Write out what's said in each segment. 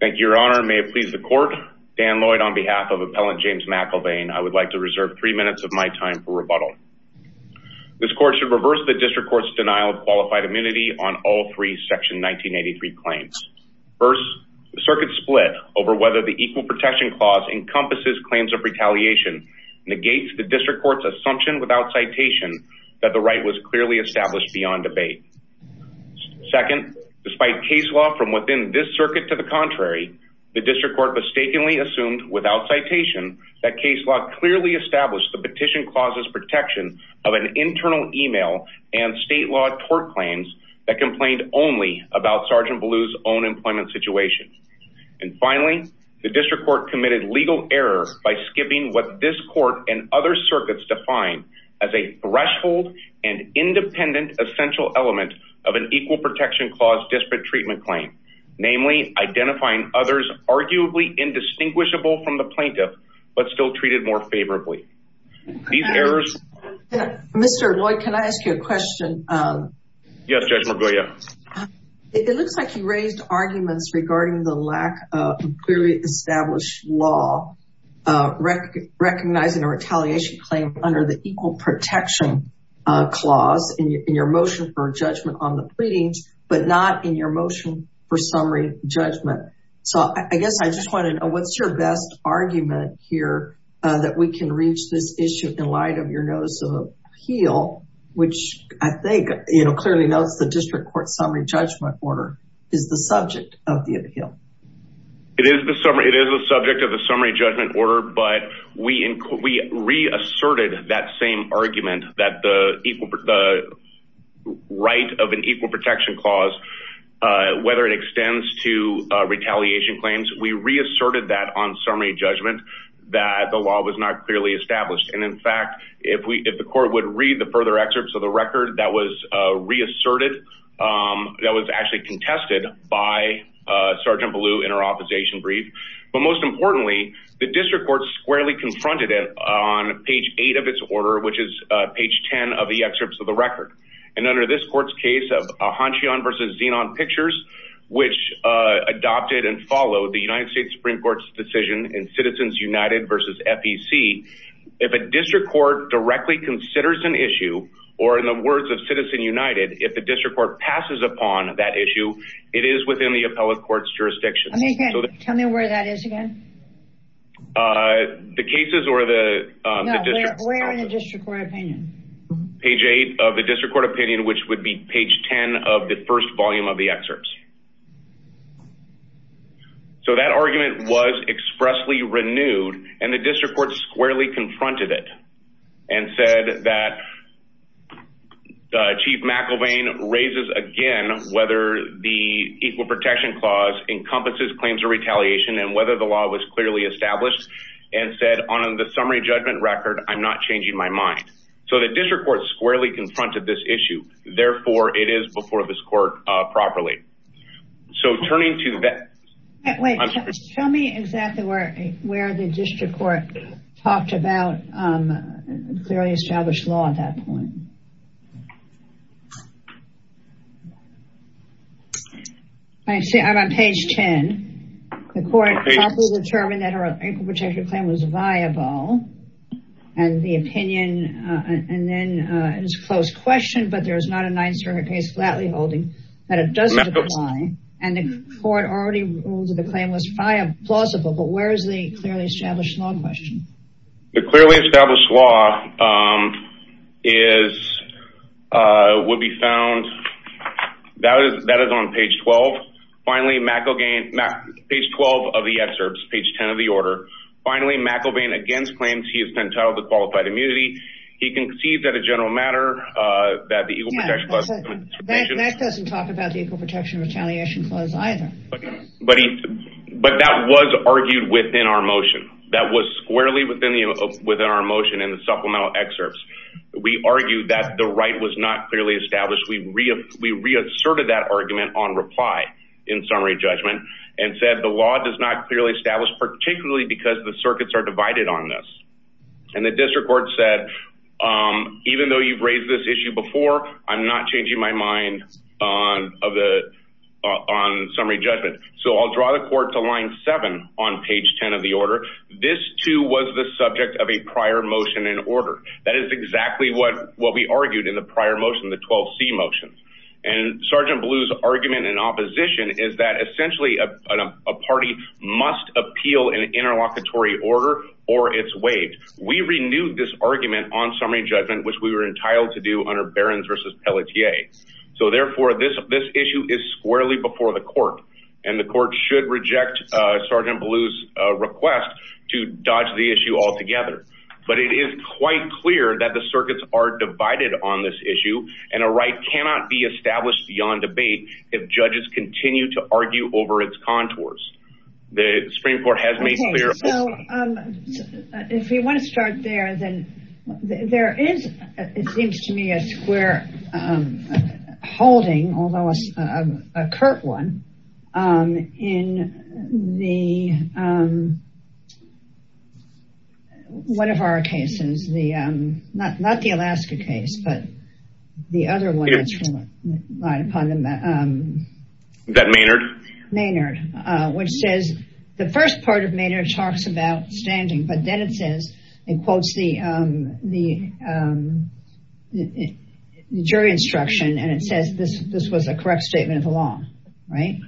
Thank Your Honor. May it please the court. Dan Lloyd on behalf of Appellant James McElvain, I would like to reserve three minutes of my time for rebuttal. This court should reverse the District Court's denial of qualified immunity on all three section 1983 claims. First, the circuit split over whether the Equal Protection Clause encompasses claims of retaliation negates the District Court's assumption without citation that the right was clearly established beyond debate. Second, despite case law from within this circuit to the contrary, the District Court mistakenly assumed without citation that case law clearly established the petition clauses protection of an internal email and state law tort claims that complained only about Sergeant Ballou's own employment situation. And finally, the District Court committed legal error by skipping what this court and other circuits define as a threshold and independent essential element of an Equal Protection Clause disparate treatment claim. Namely, identifying others arguably indistinguishable from the plaintiff, but still treated more favorably. Mr. Lloyd, can I ask you a question? Yes, Judge McGuire. It looks like you raised arguments regarding the lack of clearly established law recognizing a retaliation claim under the Equal Protection Clause in your motion for judgment on the pleadings, but not in your motion for summary judgment. So I guess I just want to know what's your best argument here that we can reach this issue in light of your notice of appeal, which I think clearly notes the District Court summary judgment order is the subject of the appeal. It is the subject of the summary judgment order, but we reasserted that same argument that the right of an Equal Protection Clause, whether it extends to retaliation claims, we reasserted that on summary judgment that the law was not clearly established. And in fact, if the court would read the further excerpts of the record that was reasserted, that was actually contested by Sergeant Ballou in our district court squarely confronted it on page eight of its order, which is page 10 of the excerpts of the record. And under this court's case of Ahanchion versus Zenon pictures, which adopted and followed the United States Supreme Court's decision in Citizens United versus FEC. If a district court directly considers an issue, or in the words of Citizen United, if the district court passes upon that issue, it is within the appellate court's jurisdiction. Tell me where that is again. The cases or the district court opinion, page eight of the district court opinion, which would be page 10 of the first volume of the excerpts. So that argument was expressly renewed and the district court squarely confronted it and said that Chief McElvain raises again, whether the Equal Protection Clause encompasses claims of retaliation and whether the law was clearly established and said on the summary judgment record, I'm not changing my mind. So the district court squarely confronted this issue. Therefore, it is before this court properly. So turning to that... Tell me exactly where the district court talked about clearly established law at that point. I see, I'm on page 10. The court properly determined that her Equal Protection Claim was viable and the opinion and then it was a closed question, but there is not a ninth circuit case flatly holding that it does apply and the court already ruled that the claim was plausible. But where is the clearly established law question? The clearly established law is, would be found, that is on page 12. Finally, McElvain, page 12 of the excerpts, page 10 of the order. Finally, McElvain against claims he has been titled a qualified immunity. He concedes that a general matter, that the Equal Protection Clause... Yeah, that doesn't talk about the Equal Protection and Retaliation Clause either. But that was argued within our motion. That was squarely within our motion in the supplemental excerpts. We argued that the right was not clearly established. We reasserted that argument on reply in summary judgment and said the law does not clearly establish, particularly because the circuits are divided on this. And the district court said, even though you've raised this issue before, I'm not changing my mind on summary judgment. So I'll draw the court to line seven on page 10 of the order. This too was the subject of a prior motion in order. That is exactly what we argued in the prior motion, the 12C motion. And Sergeant Blue's argument in opposition is that essentially a party must appeal an interlocutory order or it's waived. We renewed this argument on summary judgment, which we were entitled to do under Barron's versus Pelletier. So therefore this issue is squarely before the court and the court should reject Sergeant Blue's request to dodge the It is quite clear that the circuits are divided on this issue and a right cannot be established beyond debate if judges continue to argue over its contours. The Supreme Court has made clear. So if we want to start there, then there is, it seems to me, a square holding, although a curt one, in one of our cases, not the Alaska case, but the other one. That Maynard? Maynard, which says the first part of Maynard talks about standing, but then it says, it quotes the jury instruction and it says this was a correct statement of the law, right?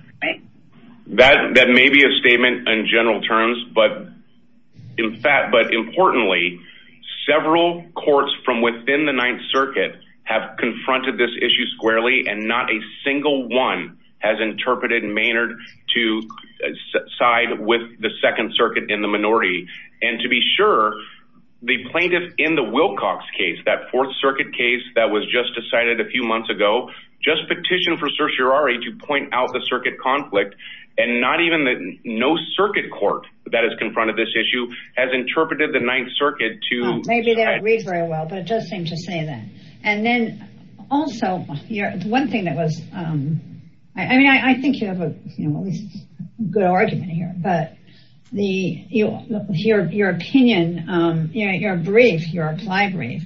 That may be a statement in general terms, but in fact, but importantly, several courts from within the Ninth Circuit have confronted this issue squarely and not a single one has second circuit in the minority. And to be sure the plaintiff in the Wilcox case, that fourth circuit case that was just decided a few months ago, just petition for certiorari to point out the circuit conflict and not even the, no circuit court that has confronted this issue has interpreted the Ninth Circuit to read very well, but it does seem to say that. And then also the one thing that was, I mean, I think you have a good argument here, but your opinion, your brief, your applied brief,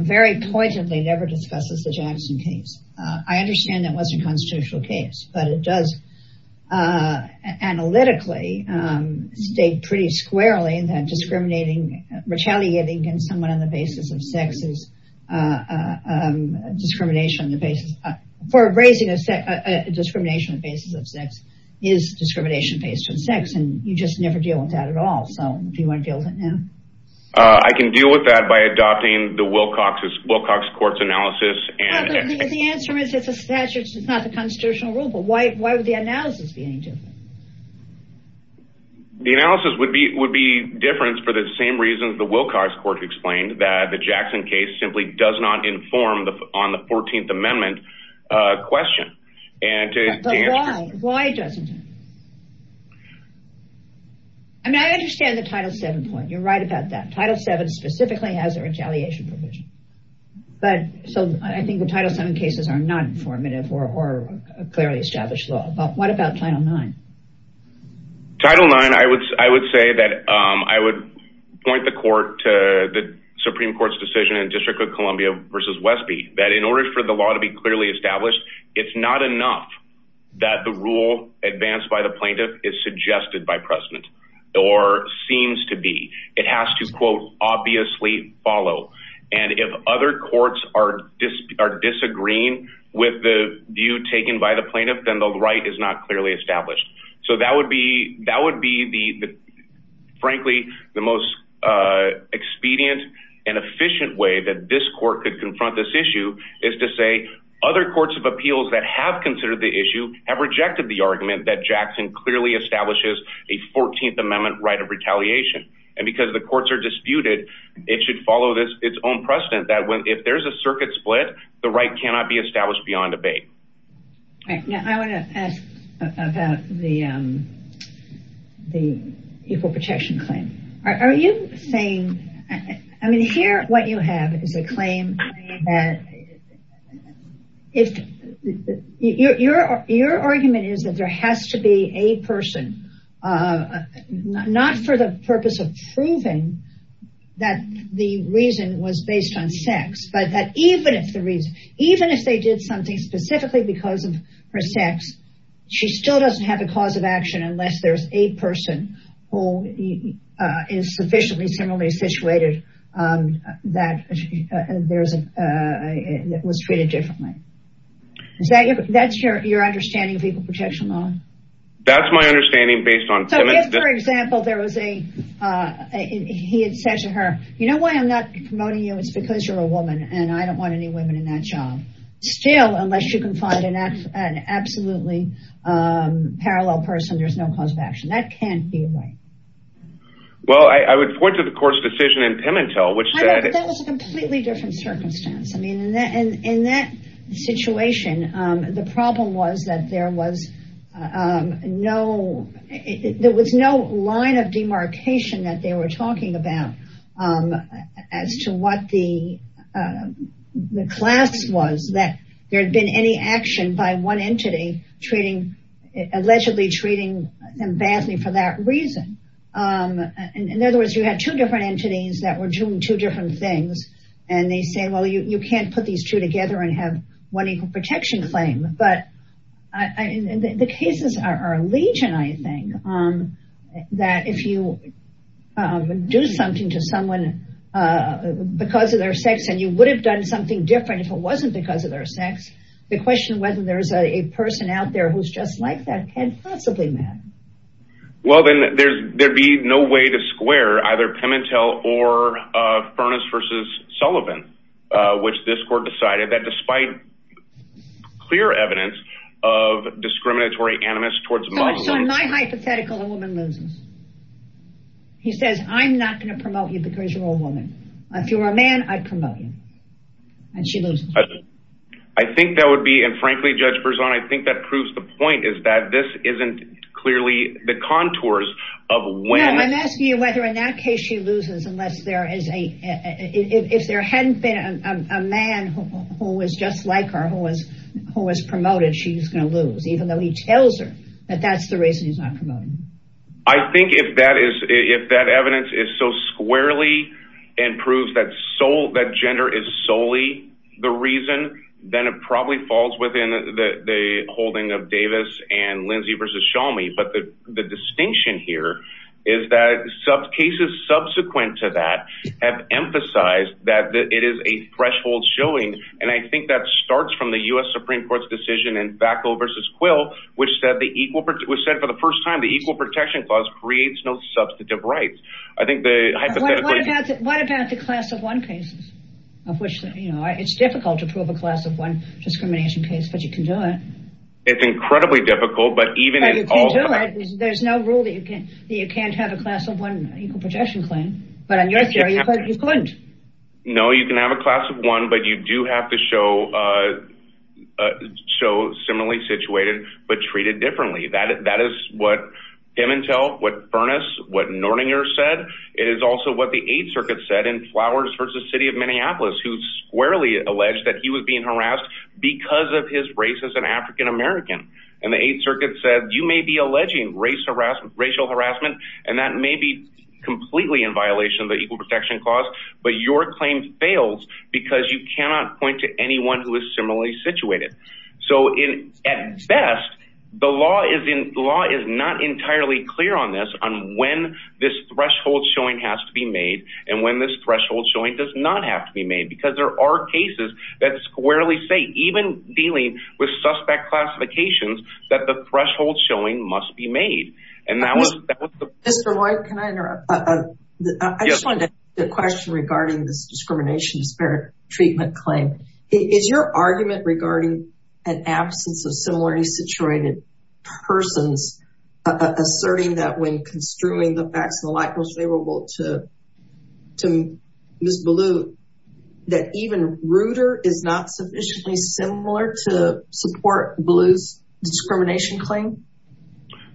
very poignantly never discusses the Jackson case. I understand that wasn't a constitutional case, but it does analytically state pretty squarely that discriminating, retaliating against someone on the basis of sex is discrimination on the basis, for raising a discrimination on the basis of sex is discrimination based on sex. And you just never deal with that at all. So do you want to deal with it now? I can deal with that by adopting the Wilcox court's analysis and... Yeah, but the answer is it's a statute, it's not the constitutional rule, but why would the analysis be any different? The analysis would be different for the same reasons the Wilcox court explained, that the Jackson case simply does not inform on the 14th amendment question. But why? Why doesn't it? I mean, I understand the Title VII point, you're right about that. Title VII specifically has a retaliation provision. So I think the Title VII cases are not informative or clearly established law, but what about Title IX? Title IX, I would say that I would point the court to the Supreme Court's decision in District of Columbia versus Westby, that in order for the law to be clearly established, it's not enough that the rule advanced by the plaintiff is suggested by precedent or seems to be. It has to, quote, obviously follow. And if other courts are disagreeing with the view taken by the plaintiff, then the right is not clearly established. So that would be, frankly, the most expedient and efficient way that this court could confront this issue is to say other courts of appeals that have considered the issue have rejected the argument that Jackson clearly establishes a 14th amendment right of retaliation. And because the courts are disputed, it should follow its own precedent that if there's a circuit split, the right cannot be I want to ask about the equal protection claim. Are you saying, I mean, here what you have is a claim that if your argument is that there has to be a person, not for the purpose of proving that the reason was based on sex, but that even if the reason, even if they did something specifically because of her sex, she still doesn't have a cause of action unless there's a person who is sufficiently similarly situated that was treated differently. Is that your understanding of equal protection law? That's my understanding based on... So if, for example, there was a, he had sex with her, you know why I'm not promoting you? It's because you're a woman and I don't want any women in that job. Still, unless you can find an absolutely parallel person, there's no cause of action. That can't be right. Well, I would point to the court's decision in Pimentel, which said... That was a completely different circumstance. I mean, in that situation, the problem was that there was no, there was no line of demarcation that they were talking about as to what the class was, that there had been any action by one entity treating, allegedly treating them badly for that reason. In other words, you had two different entities that were doing two different things and they say, well, you can't put these two together and have one equal protection claim. But the cases are a legion, I think, that if you do something to someone because of their sex and you would have done something different if it wasn't because of their sex, the question of whether there's a person out there who's just like that had possibly met. Well, then there'd be no way to square either Pimentel or Furness versus Sullivan, which this court decided that despite clear evidence of discriminatory animus towards... So in my hypothetical, a woman loses. He says, I'm not going to promote you because you're a woman. If you were a man, I'd promote you. And she loses. I think that would be, and frankly, Judge Berzon, I think that proves the point is that this isn't clearly the contours of when... A man who was just like her, who was promoted, she's going to lose, even though he tells her that that's the reason he's not promoting her. I think if that evidence is so squarely and proves that gender is solely the reason, then it probably falls within the holding of Davis and Lindsey versus Shalmi. But the distinction here is that cases subsequent to that have a threshold showing. And I think that starts from the U.S. Supreme Court's decision in Bacow versus Quill, which said for the first time, the Equal Protection Clause creates no substantive rights. What about the class of one cases of which it's difficult to prove a class of one discrimination case, but you can do it. It's incredibly difficult, but even... You can do it. There's no rule that you can't have a class of one Equal Protection Claim. But in your theory, you couldn't. No, you can have a class of one, but you do have to show similarly situated, but treated differently. That is what Dementel, what Furness, what Nortinger said. It is also what the Eighth Circuit said in Flowers versus City of Minneapolis, who squarely alleged that he was being harassed because of his race as an African-American. And the Eighth Circuit said, you may be alleging racial harassment, and that may be completely in violation of the Equal Protection Clause, but your claim fails because you cannot point to anyone who is similarly situated. So at best, the law is not entirely clear on this, on when this threshold showing has to be made and when this threshold showing does not have to be made, because there are cases that squarely say, even dealing with suspect classifications, that the threshold showing must be made. And that was the- Mr. Lloyd, can I interrupt? Yes. I just wanted to ask a question regarding this discrimination disparate treatment claim. Is your argument regarding an absence of similarly situated persons asserting that when construing the facts and the like was favorable to Ms. Ballou, that even Reuter is not sufficiently similar to support Ballou's discrimination claim?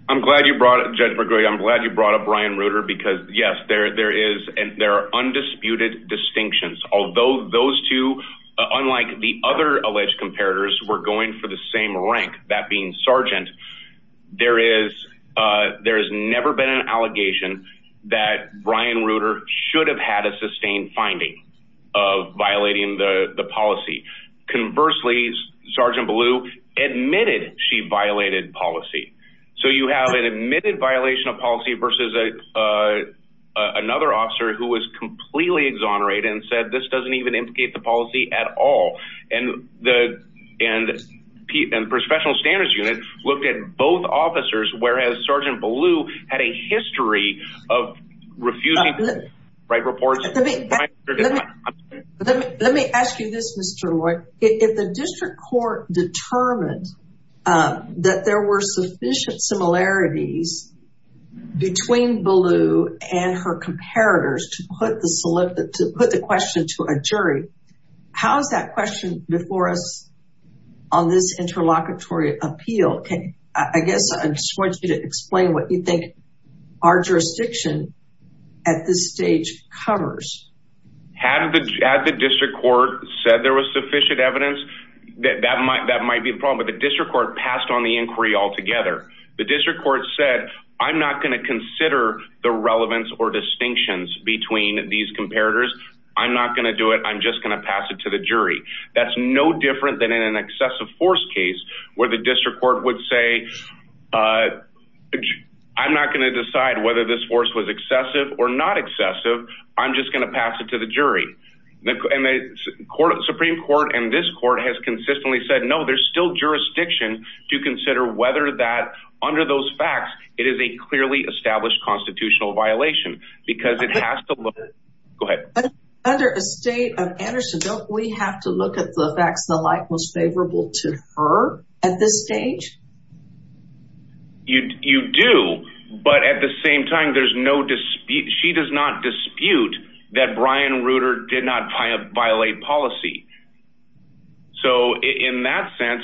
I'm glad you brought up, Judge McGregor, I'm glad you brought up Brian Reuter, because yes, there are undisputed distinctions. Although those two, unlike the other alleged comparators, were going for the same rank, that being Sargent, there has never been an allegation that Brian Reuter should have had a sustained finding of violating the policy, so you have an admitted violation of policy versus another officer who was completely exonerated and said, this doesn't even implicate the policy at all. And the professional standards unit looked at both officers, whereas Sargent Ballou had a history of refusing to write reports- Let me ask you this, Mr. McGregor, had the district court determined that there were sufficient similarities between Ballou and her comparators to put the question to a jury? How's that question before us on this interlocutory appeal? Can, I guess, I just want you to explain what you think our jurisdiction at this stage covers. Had the district court said there was sufficient evidence, that might be the problem, but the district court passed on the inquiry altogether. The district court said, I'm not going to consider the relevance or distinctions between these comparators. I'm not going to do it. I'm just going to pass it to the jury. That's no different than in an excessive force case where the district court would say, I'm not going to decide whether this force was excessive or not I'm just going to pass it to the jury. And the Supreme court and this court has consistently said, no, there's still jurisdiction to consider whether that, under those facts, it is a clearly established constitutional violation because it has to look- Under a state of Anderson, don't we have to look at the facts and the like most favorable to her at this stage? You do, but at the same time, there's no dispute. She does not dispute that Brian Reuter did not violate policy. So in that sense,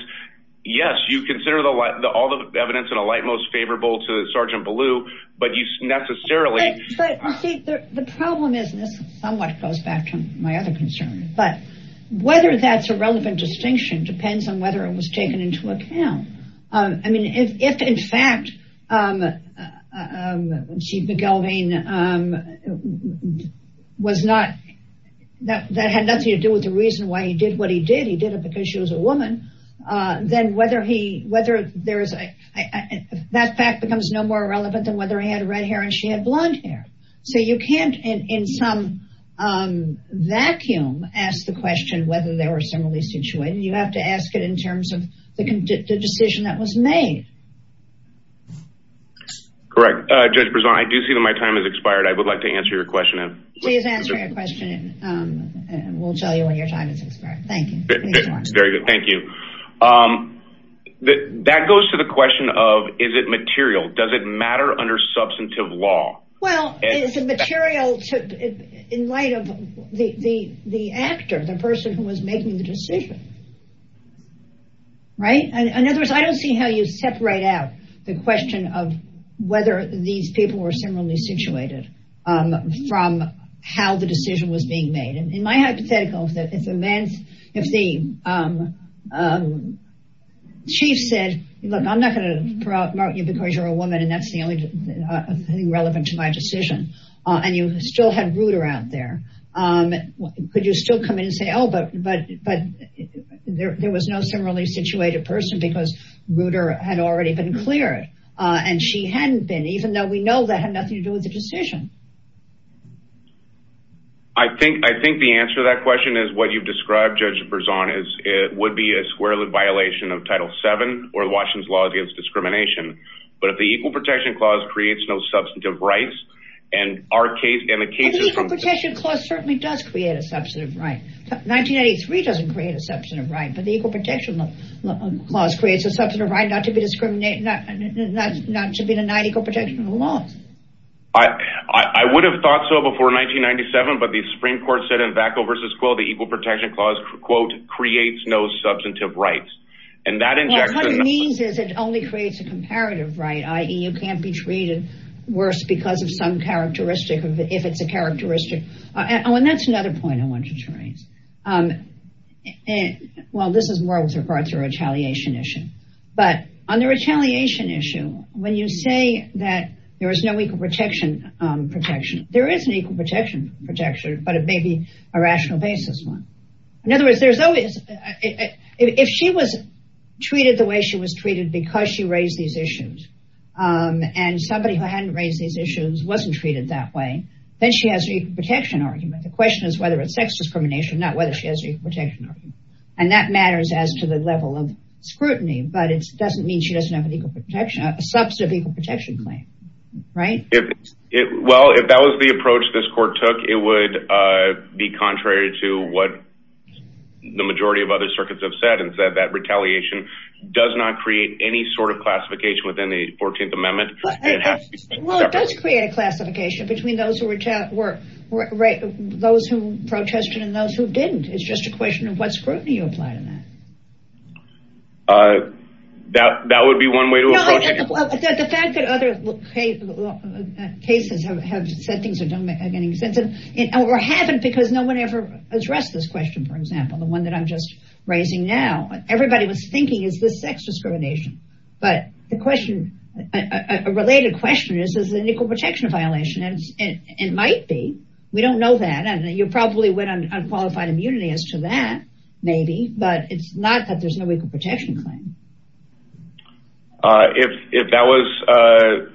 yes, you consider all the evidence in a light, most favorable to Sergeant Ballew, but you necessarily- The problem is, and this somewhat goes back to my other concern, but whether that's a relevant distinction depends on whether it was taken into account. I mean, if in fact Chief McElveen was not, that had nothing to do with the reason why he did what he did, he did it because she was a woman, then whether he, whether there is, that fact becomes no more relevant than whether he had red hair and she had blonde hair. So you can't in some vacuum, ask the question whether they were similarly situated, you have to ask it in terms of the decision that was made. Correct. Judge Brisson, I do see that my time has expired. I would like to answer your question. Please answer your question and we'll tell you when your time has expired. Thank you. Very good. Thank you. That goes to the question of, is it material? Does it matter under substantive law? Well, it's a material in light of the actor, the person who was making the decision, right? And in other words, I don't see how you separate out the question of whether these people were similarly situated from how the decision was being made. And in my hypothetical, if the chief said, look, I'm not going to mark you because you're a woman and that's the only thing relevant to my decision. And you still had Rooder out there. Could you still come in and say, oh, but there was no similarly situated person because Rooder had already been cleared and she hadn't been, even though we know that had nothing to do with the decision. I think the answer to that question is what you've described, Judge Brisson, is it would be a square lid violation of Title VII or the Washington laws against discrimination. But if the Equal Protection Clause creates no substantive rights and the case is from- The Equal Protection Clause certainly does create a substantive right. 1993 doesn't create a substantive right, but the Equal Protection Clause creates a substantive right not to be a non-equal protection of the law. I would have thought so before 1997, but the Supreme Court said in Vacko v. Quill, the Equal Protection Clause, quote, creates no substantive rights and that injects- What it means is it only creates a comparative right, i.e. you can't be treated worse because of some characteristic, if it's a characteristic, oh, and that's another point I wanted to raise. Well, this is more with regard to a retaliation issue, but on the retaliation issue, when you say that there is no equal protection protection, there is an equal protection protection, but it may be a rational basis one. In other words, if she was treated the way she was treated because she raised these issues and somebody who hadn't raised these issues wasn't treated that way, then she has an equal protection argument. The question is whether it's sex discrimination, not whether she has an equal protection argument, and that matters as to the level of scrutiny, but it doesn't mean she doesn't have an equal protection, a substantive equal protection claim, right? Well, if that was the approach this court took, it would be contrary to what the majority of other circuits have said and said that retaliation does not create any sort of classification within the 14th Amendment. Well, it does create a classification between those who were those who protested and those who didn't. It's just a question of what scrutiny you apply to that. That that would be one way to approach it. The fact that other cases have said things that don't make any sense or haven't because no one ever addressed this question, for example, the one that I'm just raising now, everybody was thinking, is this sex discrimination? But the question, a related question is, is it an equal protection violation? And it might be, we don't know that. And you probably went on unqualified immunity as to that, maybe, but it's not that there's no equal protection claim. If that was,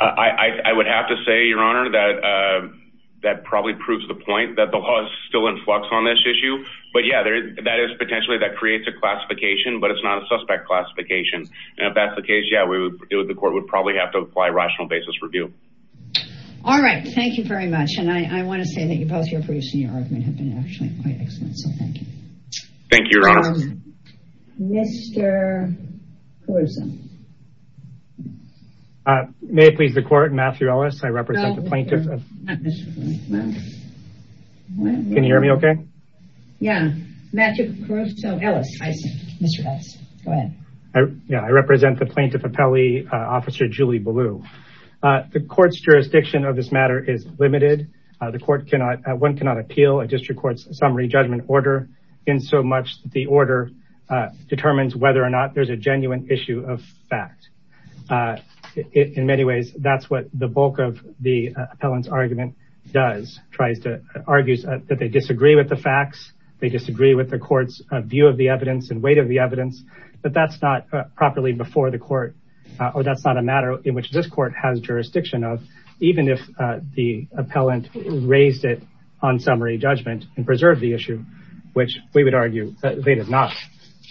I would have to say, Your Honor, that that probably proves the issue, but yeah, that is potentially that creates a classification, but it's not a suspect classification. And if that's the case, yeah, we would do it. The court would probably have to apply a rational basis review. All right. Thank you very much. And I want to say that you both, you're producing your argument have been actually quite excellent. So thank you. Thank you, Your Honor. Mr. Caruso. May it please the court, Matthew Ellis. I represent the plaintiffs. Can you hear me okay? Yeah. Matthew Caruso, Ellis, I see Mr. Ellis, go ahead. Yeah. I represent the plaintiff appellee officer, Julie Ballou. The court's jurisdiction of this matter is limited. The court cannot, one cannot appeal a district court's summary judgment order in so much that the order determines whether or not there's a genuine issue of fact, in many ways, that's what the bulk of the appellant's argument does. Tries to, argues that they disagree with the facts. They disagree with the court's view of the evidence and weight of the evidence, but that's not properly before the court or that's not a matter in which this court has jurisdiction of, even if the appellant raised it on summary judgment and preserved the issue, which we would argue that they did not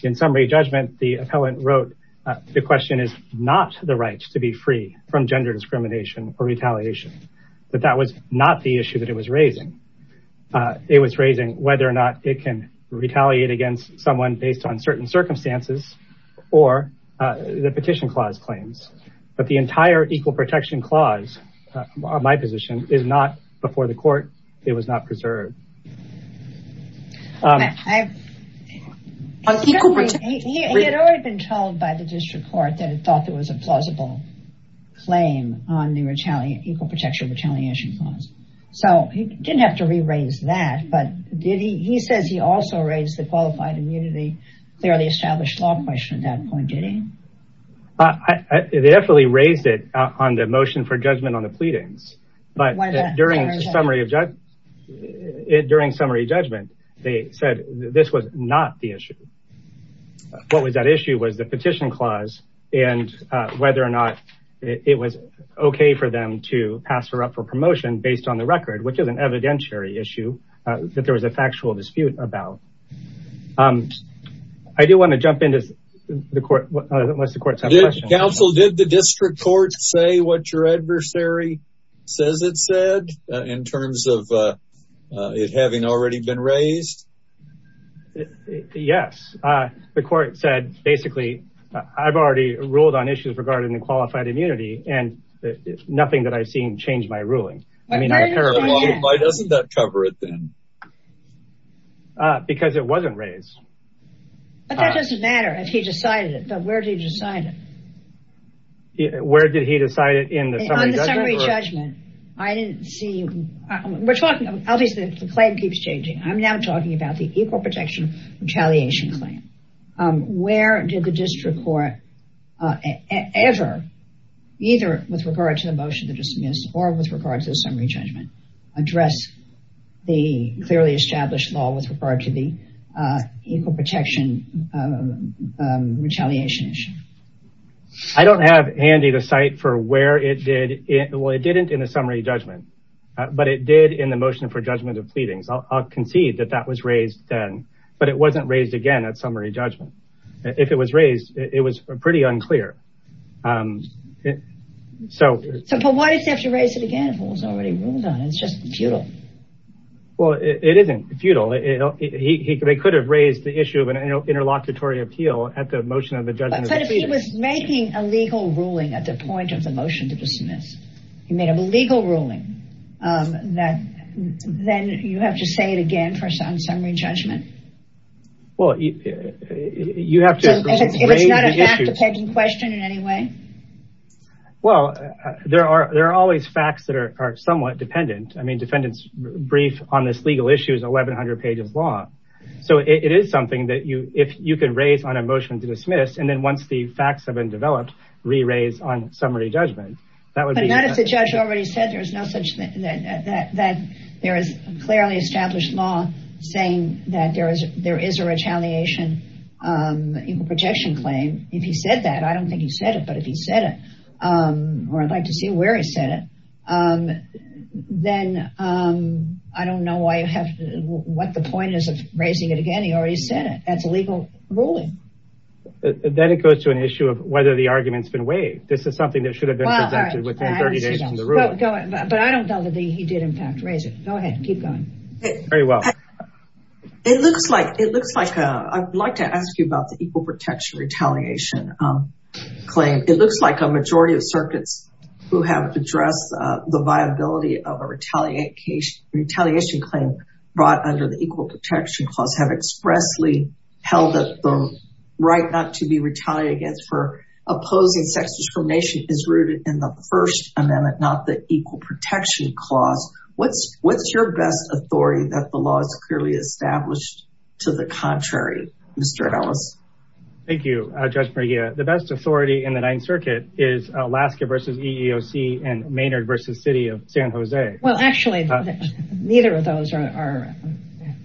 in summary judgment, the appellant wrote the question is not the right to be free from gender discrimination or retaliation, but that was not the issue that it was raising. It was raising whether or not it can retaliate against someone based on certain circumstances or the petition clause claims, but the entire equal protection clause, my position is not before the court, it was not preserved. He had already been told by the district court that it thought it was a plausible claim on the retaliate equal protection retaliation clause. So he didn't have to re-raise that, but did he, he says he also raised the qualified immunity fairly established law question at that point. Did he? I definitely raised it on the motion for judgment on the pleadings, but during summary of judge, during summary judgment, they said this was not the issue. What was that issue was the petition clause and whether or not it was okay for them to pass her up for promotion based on the record, which is an evidentiary issue that there was a factual dispute about I do want to jump into the court, unless the courts have questions. Counsel, did the district court say what your adversary says it said in terms of it having already been raised? Yes, the court said, basically, I've already ruled on issues regarding the qualified immunity and nothing that I've seen changed my ruling. I mean, why doesn't that cover it then? Because it wasn't raised. But that doesn't matter if he decided it, but where did he decide it? Where did he decide it in the summary judgment? I didn't see, we're talking, obviously the claim keeps changing. I'm now talking about the equal protection retaliation claim. Where did the district court ever, either with regard to the motion to dismiss or with regard to the summary judgment, address the clearly established law with regard to the equal protection retaliation issue? I don't have handy the site for where it did it. Well, it didn't in a summary judgment, but it did in the motion for judgment of pleadings. I'll concede that that was raised then, but it wasn't raised again at summary judgment. If it was raised, it was pretty unclear. So, but why did you have to raise it again if it was already ruled on? It's just futile. Well, it isn't futile. He could have raised the issue of an interlocutory appeal at the motion of the judgment of pleadings. But if he was making a legal ruling at the point of the motion to dismiss, he made a legal ruling that then you have to say it again for some summary judgment. Well, you have to raise the issue. So if it's not a fact-depending question in any way? Well, there are always facts that are somewhat dependent. I mean, defendant's brief on this legal issue is 1100 pages long. So it is something that you, if you can raise on a motion to dismiss, and then once the facts have been developed, re-raise on summary judgment. But as the judge already said, there is no such thing that there is clearly established law saying that there is a retaliation equal protection claim. If he said that, I don't think he said it, but if he said it, or I'd like to see where he said it, then I don't know what the point is of raising it again. He already said it. That's a legal ruling. Then it goes to an issue of whether the argument's been waived. This is something that should have been presented within 30 days from the ruling. But I don't know that he did in fact raise it. Go ahead. Keep going. Very well. It looks like, it looks like, I'd like to ask you about the equal protection retaliation claim. It looks like a majority of circuits who have addressed the viability of a retaliation claim brought under the equal protection clause have expressly held up the right not to be retaliated against for opposing sex discrimination is rooted in the first amendment, not the equal protection clause, what's your best authority that the law is clearly established to the contrary, Mr. Ellis? Thank you, Judge Maria. The best authority in the ninth circuit is Alaska versus EEOC and Maynard versus city of San Jose. Well, actually neither of those are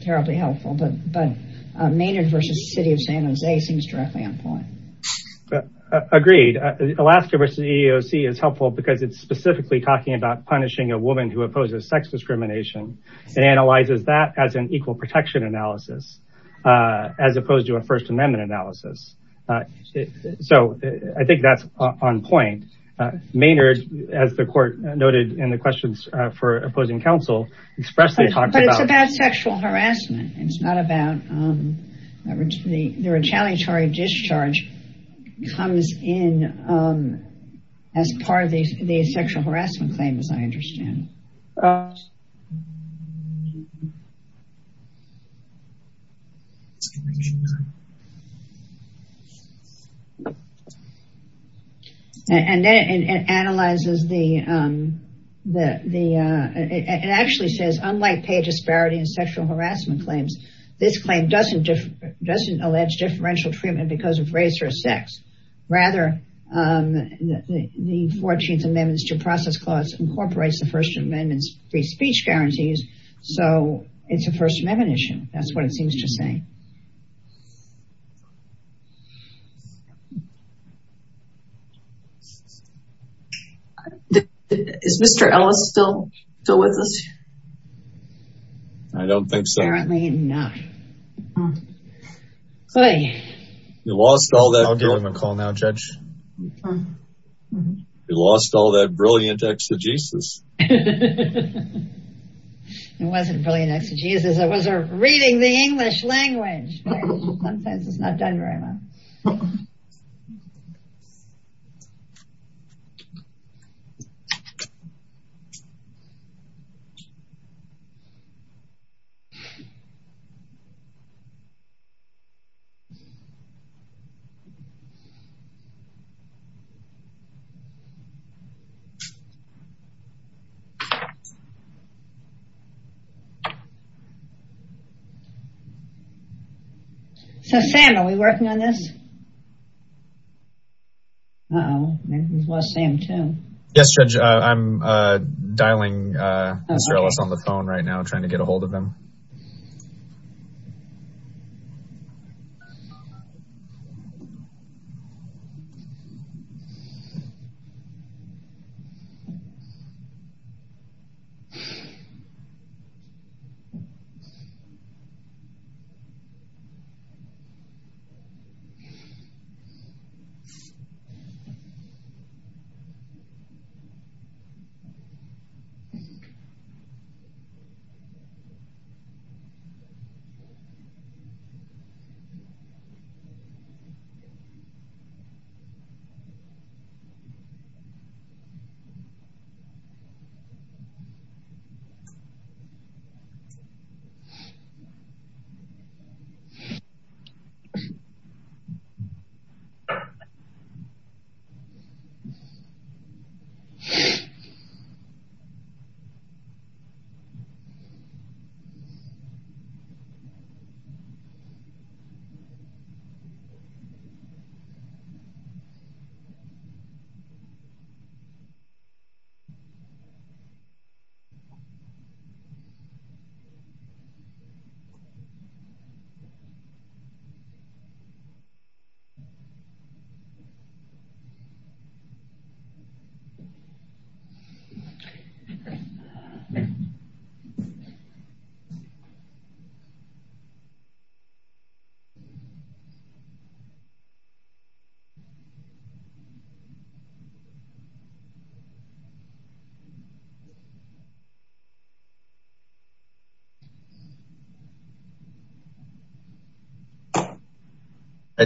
terribly helpful, but Maynard versus the city of San Jose seems directly on point. Agreed. Alaska versus EEOC is helpful because it's specifically talking about punishing a woman who opposes sex discrimination and analyzes that as an equal protection analysis, as opposed to a first amendment analysis. So I think that's on point. Maynard, as the court noted in the questions for opposing counsel, expressly talked about- But it's about sexual harassment. It's not about, the retaliatory discharge comes in as part of the sexual harassment claim, as I understand. And then it analyzes the, it actually says, unlike pay disparity and this claim doesn't allege differential treatment because of race or sex. Rather, the 14th amendments to process clause incorporates the first amendments free speech guarantees. So it's a first amendment issue. That's what it seems to say. Is Mr. Ellis still with us? I don't think so. Apparently not. You lost all that- I'll give him a call now, Judge. You lost all that brilliant exegesis. It wasn't brilliant exegesis. It was a reading the English language. Sometimes it's not done very well. So Sam, are we working on this? Uh oh, maybe we've lost Sam too. Yes, Judge, I'm dialing Mr. Ellis on the phone right now, trying to get ahold of him.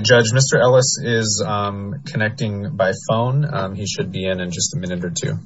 Judge, Mr. Ellis is connecting by phone. He should be in in just a minute or two.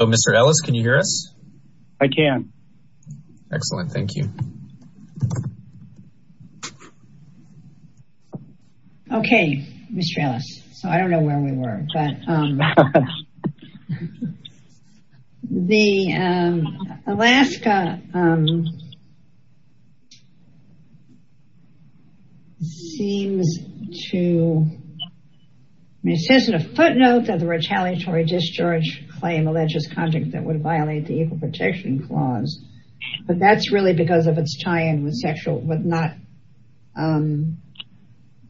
Oh, Mr. Ellis, can you hear us? I can. Excellent. Thank you. Okay, Mr. Ellis. So I don't know where we were, but the Alaska seems to, I mean, it says in a footnote that the retaliatory discharge claim alleges conduct that would violate the Equal Protection Clause, but that's really because of its tie in with not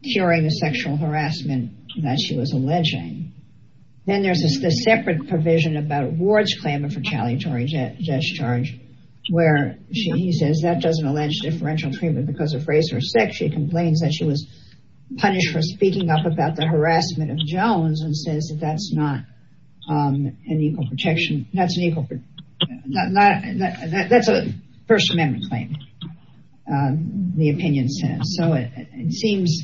curing the sexual harassment that she was alleging. Then there's a separate provision about Ward's claim of retaliatory discharge, where he says that doesn't allege differential treatment because of race or sex. She complains that she was punished for speaking up about the harassment of Jones and says that that's a First Amendment claim. The opinion says so it seems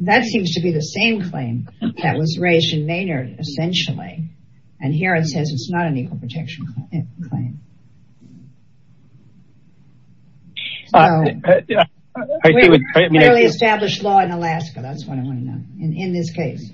that seems to be the same claim that was raised in Maynard, essentially, and here it says it's not an Equal Protection claim. Clearly established law in Alaska. That's what I want to know in this case.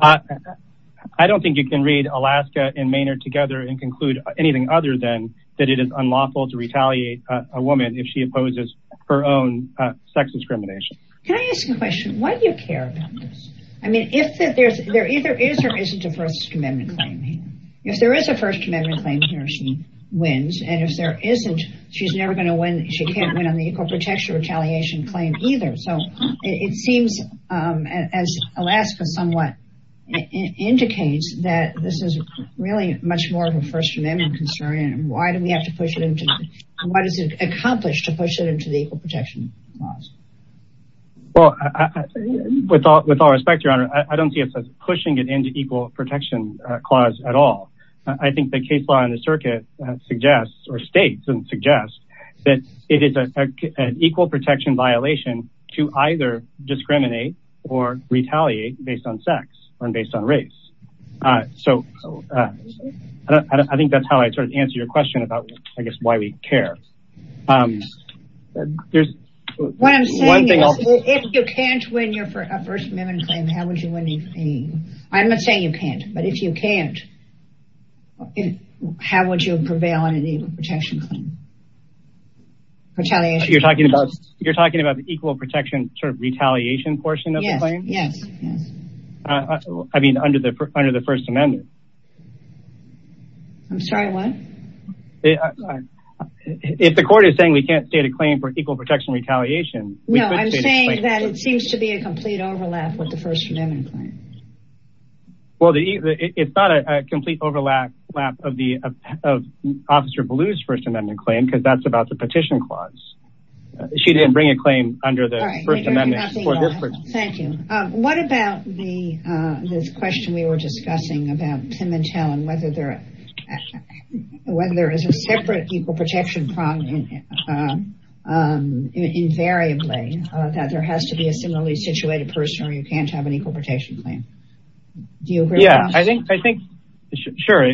I don't think you can read Alaska and Maynard together and conclude anything other than that it is unlawful to a woman if she opposes her own sex discrimination. Can I ask a question? Why do you care about this? I mean, if there either is or isn't a First Amendment claim. If there is a First Amendment claim here, she wins. And if there isn't, she's never going to win. She can't win on the Equal Protection Retaliation claim either. So it seems as Alaska somewhat indicates that this is really much more of a First Amendment concern. Why do we have to push it into what is it accomplished to push it into the Equal Protection Clause? Well, with all respect, Your Honor, I don't see it as pushing it into Equal Protection Clause at all. I think the case law in the circuit suggests or states and suggests that it is an Equal Protection violation to either discriminate or retaliate based on sex and based on race. So I think that's how I sort of answer your question about, I guess, why we care. There's one thing. If you can't win your First Amendment claim, how would you win? I'm not saying you can't, but if you can't, how would you prevail on an Equal Protection claim? Retaliation. You're talking about you're talking about the Equal Protection sort of retaliation portion of the claim? Yes. I mean, under the under the First Amendment. I'm sorry, what? If the court is saying we can't state a claim for Equal Protection Retaliation, I'm saying that it seems to be a complete overlap with the First Amendment claim. Well, it's not a complete overlap of Officer Ballew's First Amendment claim, because that's about the petition clause. She didn't bring a claim under the First Amendment. Thank you. What about the question we were discussing about Pimentel and whether there is a separate Equal Protection claim invariably that there has to be a similarly situated person or you can't have an Equal Protection claim? Do you agree? Yeah, I think, sure.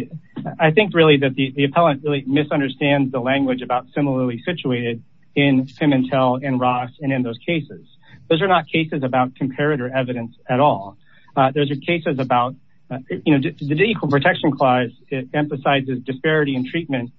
I think really that the appellant really misunderstands the language about similarly situated in Pimentel and Ross and in those cases. Those are not cases about comparator evidence at all. Those are cases about the Equal Protection clause emphasizes disparity in treatment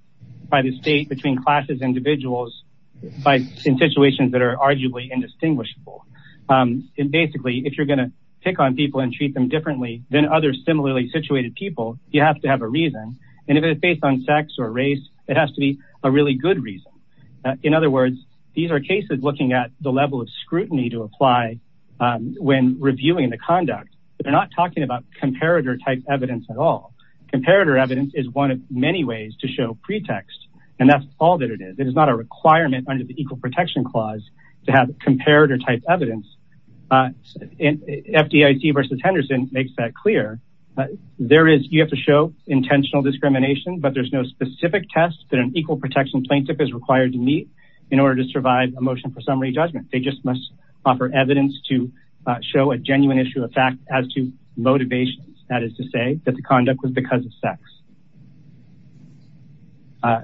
by the state between classes, individuals in situations that are arguably indistinguishable. And basically, if you're going to pick on people and treat them differently than other similarly situated people, you have to have a reason. And if it's based on sex or race, it has to be a really good reason. In other words, these are cases looking at the level of scrutiny to apply when reviewing the conduct. They're not talking about comparator type evidence at all. Comparator evidence is one of many ways to show pretext, and that's all that it is. It is not a requirement under the Equal Protection clause to have comparator type evidence. FDIC versus Henderson makes that clear. There is, you have to show intentional discrimination, but there's no specific test that an Equal Protection plaintiff is required to meet in order to survive a motion for summary judgment. They just must offer evidence to show a genuine issue of fact as to motivations. That is to say that the conduct was because of sex. To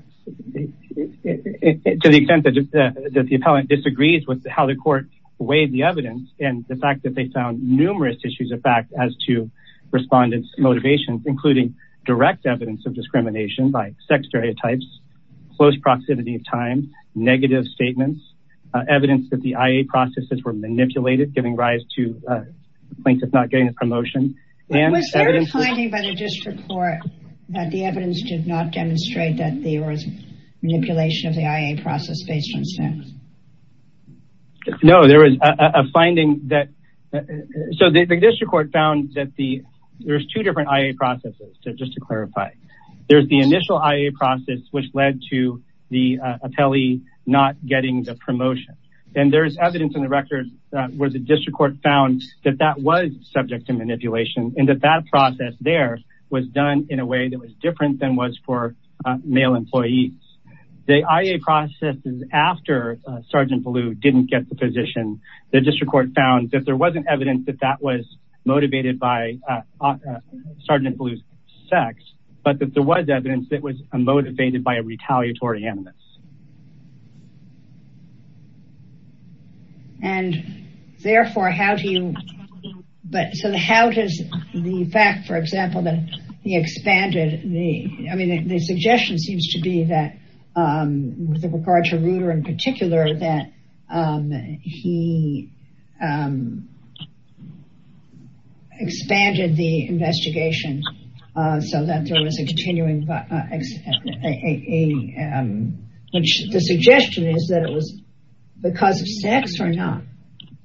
the extent that the appellant disagrees with how the court weighed the evidence and the fact that they found numerous issues of fact as to respondents motivations, including direct evidence of discrimination by sex stereotypes, close proximity of time, negative statements, evidence that the IA processes were manipulated, giving rise to plaintiffs not getting a promotion. And was there a finding by the district court that the evidence did not demonstrate that there was manipulation of the IA process based on sex? No, there was a finding that, so the district court found that the, there's two different IA processes. So just to clarify, there's the initial IA process, which led to the appellee not getting the promotion and there's evidence in the record where the district court found that that was subject to manipulation and that that process there was done in a way that was different than was for male employees. The IA processes after Sergeant Ballew didn't get the position. The district court found that there wasn't evidence that that was motivated by Sergeant Ballew's sex, but that there was evidence that was motivated by a retaliatory evidence. And therefore, how do you, but so how does the fact, for example, that he expanded the, I mean, the suggestion seems to be that with regard to Reuter in particular, that he expanded the IA, which the suggestion is that it was because of sex or not?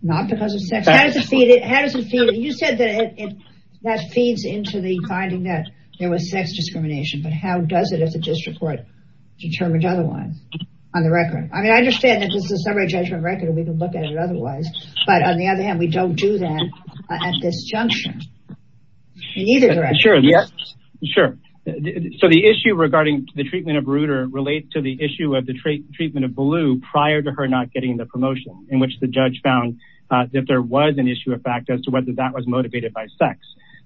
Not because of sex. How does it feed it? How does it feed it? You said that it, that feeds into the finding that there was sex discrimination, but how does it as a district court determined otherwise on the record? I mean, I understand that this is a summary judgment record and we can look at it otherwise, but on the other hand, we don't do that at this junction in either direction. Sure. Yeah, sure. So the issue regarding the treatment of Reuter relate to the issue of the treatment of Ballew prior to her not getting the promotion in which the judge found that there was an issue of fact as to whether that was motivated by sex,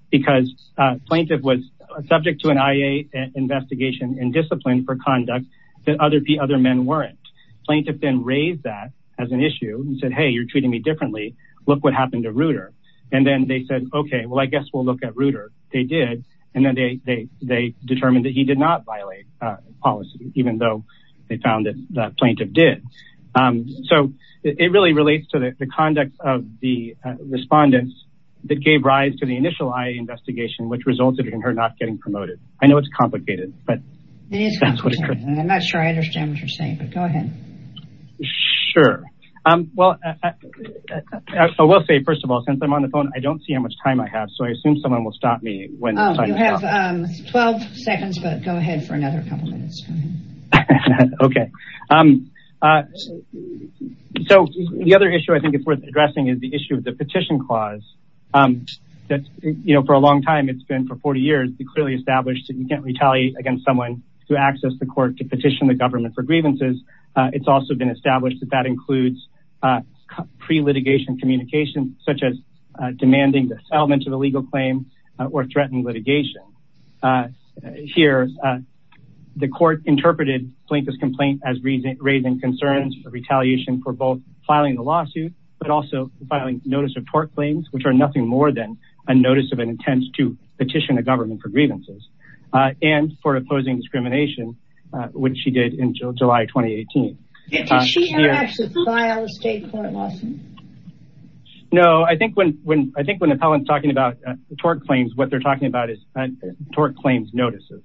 because a plaintiff was subject to an IA investigation and discipline for conduct that other men weren't. Plaintiff then raised that as an issue and said, Hey, you're treating me differently. Look what happened to Reuter. And then they said, okay, well, I guess we'll look at Reuter. They did. And then they determined that he did not violate policy, even though they found that the plaintiff did. So it really relates to the conduct of the respondents that gave rise to the initial IA investigation, which resulted in her not getting promoted. I know it's complicated, but it is complicated and I'm not sure I understand what you're saying, but go ahead. Sure. I will say, first of all, since I'm on the phone, I don't see how much time I have. So I assume someone will stop me when you have 12 seconds, but go ahead for another couple of minutes. Okay. So the other issue I think it's worth addressing is the issue of the petition clause that's, you know, for a long time, it's been for 40 years, it clearly established that you can't retaliate against someone to access the court, to petition the government for grievances. It's also been established that that includes pre-litigation and communication such as demanding the settlement of a legal claim or threatening litigation. Here, the court interpreted Plinkett's complaint as raising concerns for retaliation for both filing the lawsuit, but also filing notice of court claims, which are nothing more than a notice of an intent to petition the government for grievances and for opposing discrimination, which she did in July, 2018. Did she have to file a state court lawsuit? No, I think when the appellant's talking about court claims, what they're talking about is court claims notices.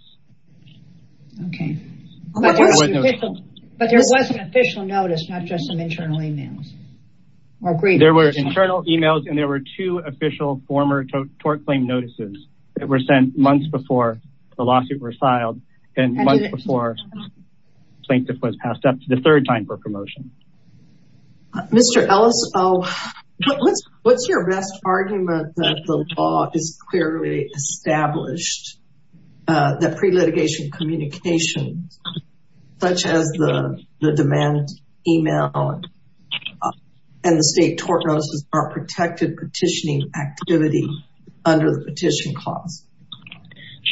Okay. But there was an official notice, not just some internal emails or grievances. There were internal emails and there were two official former court claim notices that were sent months before the lawsuit were filed and months before Plinkett was passed up for the third time for promotion. Mr. Ellis, what's your best argument that the law is clearly established that pre-litigation communication, such as the demand email and the state tort notices are protected petitioning activity under the petition clause?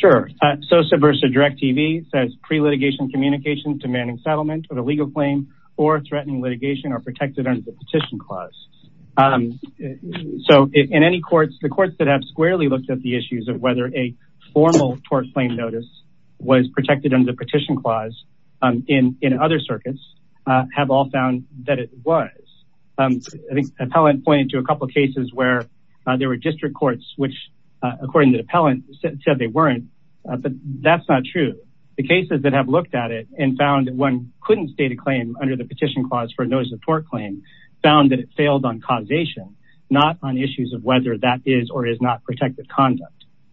Sure. SOSA versus DirecTV says pre-litigation communications demanding settlement of a legal claim or threatening litigation are protected under the petition clause. So in any courts, the courts that have squarely looked at the issues of whether a formal tort claim notice was protected under the petition clause in other circuits have all found that it was. I think the appellant pointed to a couple of cases where there were district courts, which according to the appellant said they weren't, but that's not true. The cases that have looked at it and found that one couldn't state a claim under the petition clause for a notice of tort claim found that it failed on causation, not on issues of whether that is or is not protected conduct.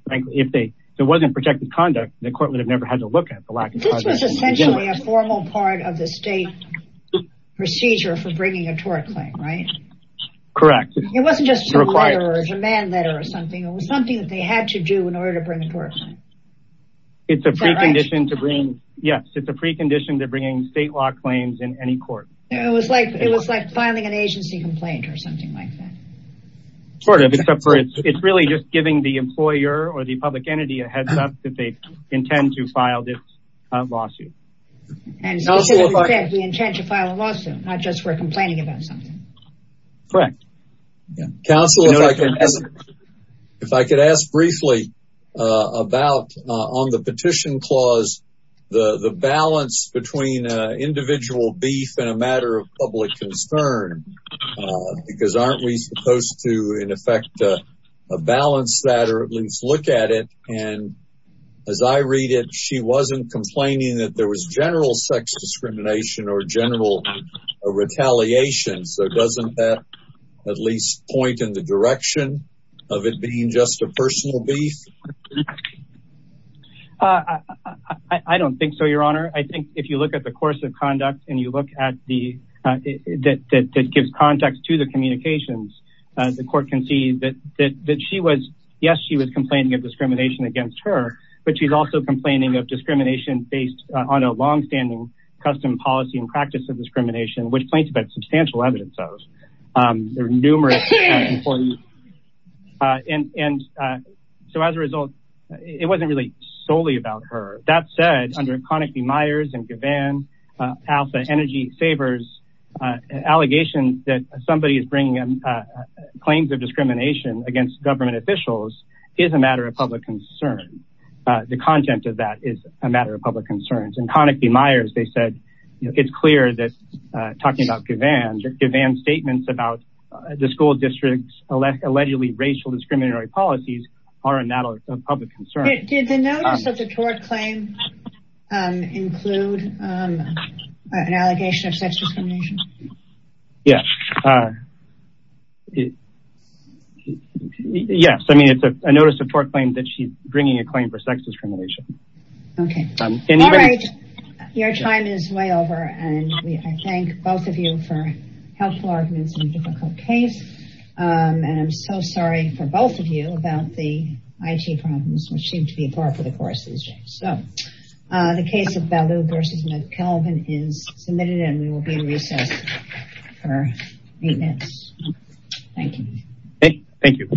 If it wasn't protected conduct, the court would have never had to look at the lack of causation. This was essentially a formal part of the state procedure for bringing a tort claim, right? Correct. It wasn't just a letter or a demand letter or something. It was something that they had to do in order to bring a tort claim. It's a precondition to bring, yes, it's a precondition to bringing state law claims in any court. It was like filing an agency complaint or something like that. Sort of. It's really just giving the employer or the public entity a heads up that they intend to file this lawsuit. And we intend to file a lawsuit, not just for complaining about something. Correct. Counselor, if I could ask briefly about on the petition clause, the balance between individual beef and a matter of public concern, because aren't we supposed to, in effect, balance that or at least look at it? And as I read it, she wasn't complaining that there was general sex discrimination or general retaliation. So doesn't that at least point in the direction of it being just a personal beef? I don't think so, your honor. I think if you look at the course of conduct and you look at the that gives context to the communications, the court can see that she was, yes, she was complaining of discrimination against her, but she's also complaining of discrimination based on a longstanding custom policy and practice of discrimination, which claims to be substantial evidence of numerous. And so as a result, it wasn't really solely about her. That said, under Connick, the Meyers and Gavin Alpha Energy Sabres allegation that somebody is bringing in claims of discrimination against government officials is a matter of public concern. The content of that is a matter of public concerns. In Connick v. Meyers, they said it's clear that talking about Gavin's statements about the school district's allegedly racial discriminatory policies are a matter of public concern. Did the notice of the tort claim include an allegation of sex discrimination? Yes, yes. I mean, it's a notice of tort claim that she's bringing a claim for sex discrimination. OK, your time is way over. And I thank both of you for helpful arguments in a difficult case. And I'm so sorry for both of you about the IT problems which seem to be a part of the course these days. So the case of Ballew v. McKelvin is submitted and we will be in recess for eight minutes. Thank you. Thank you.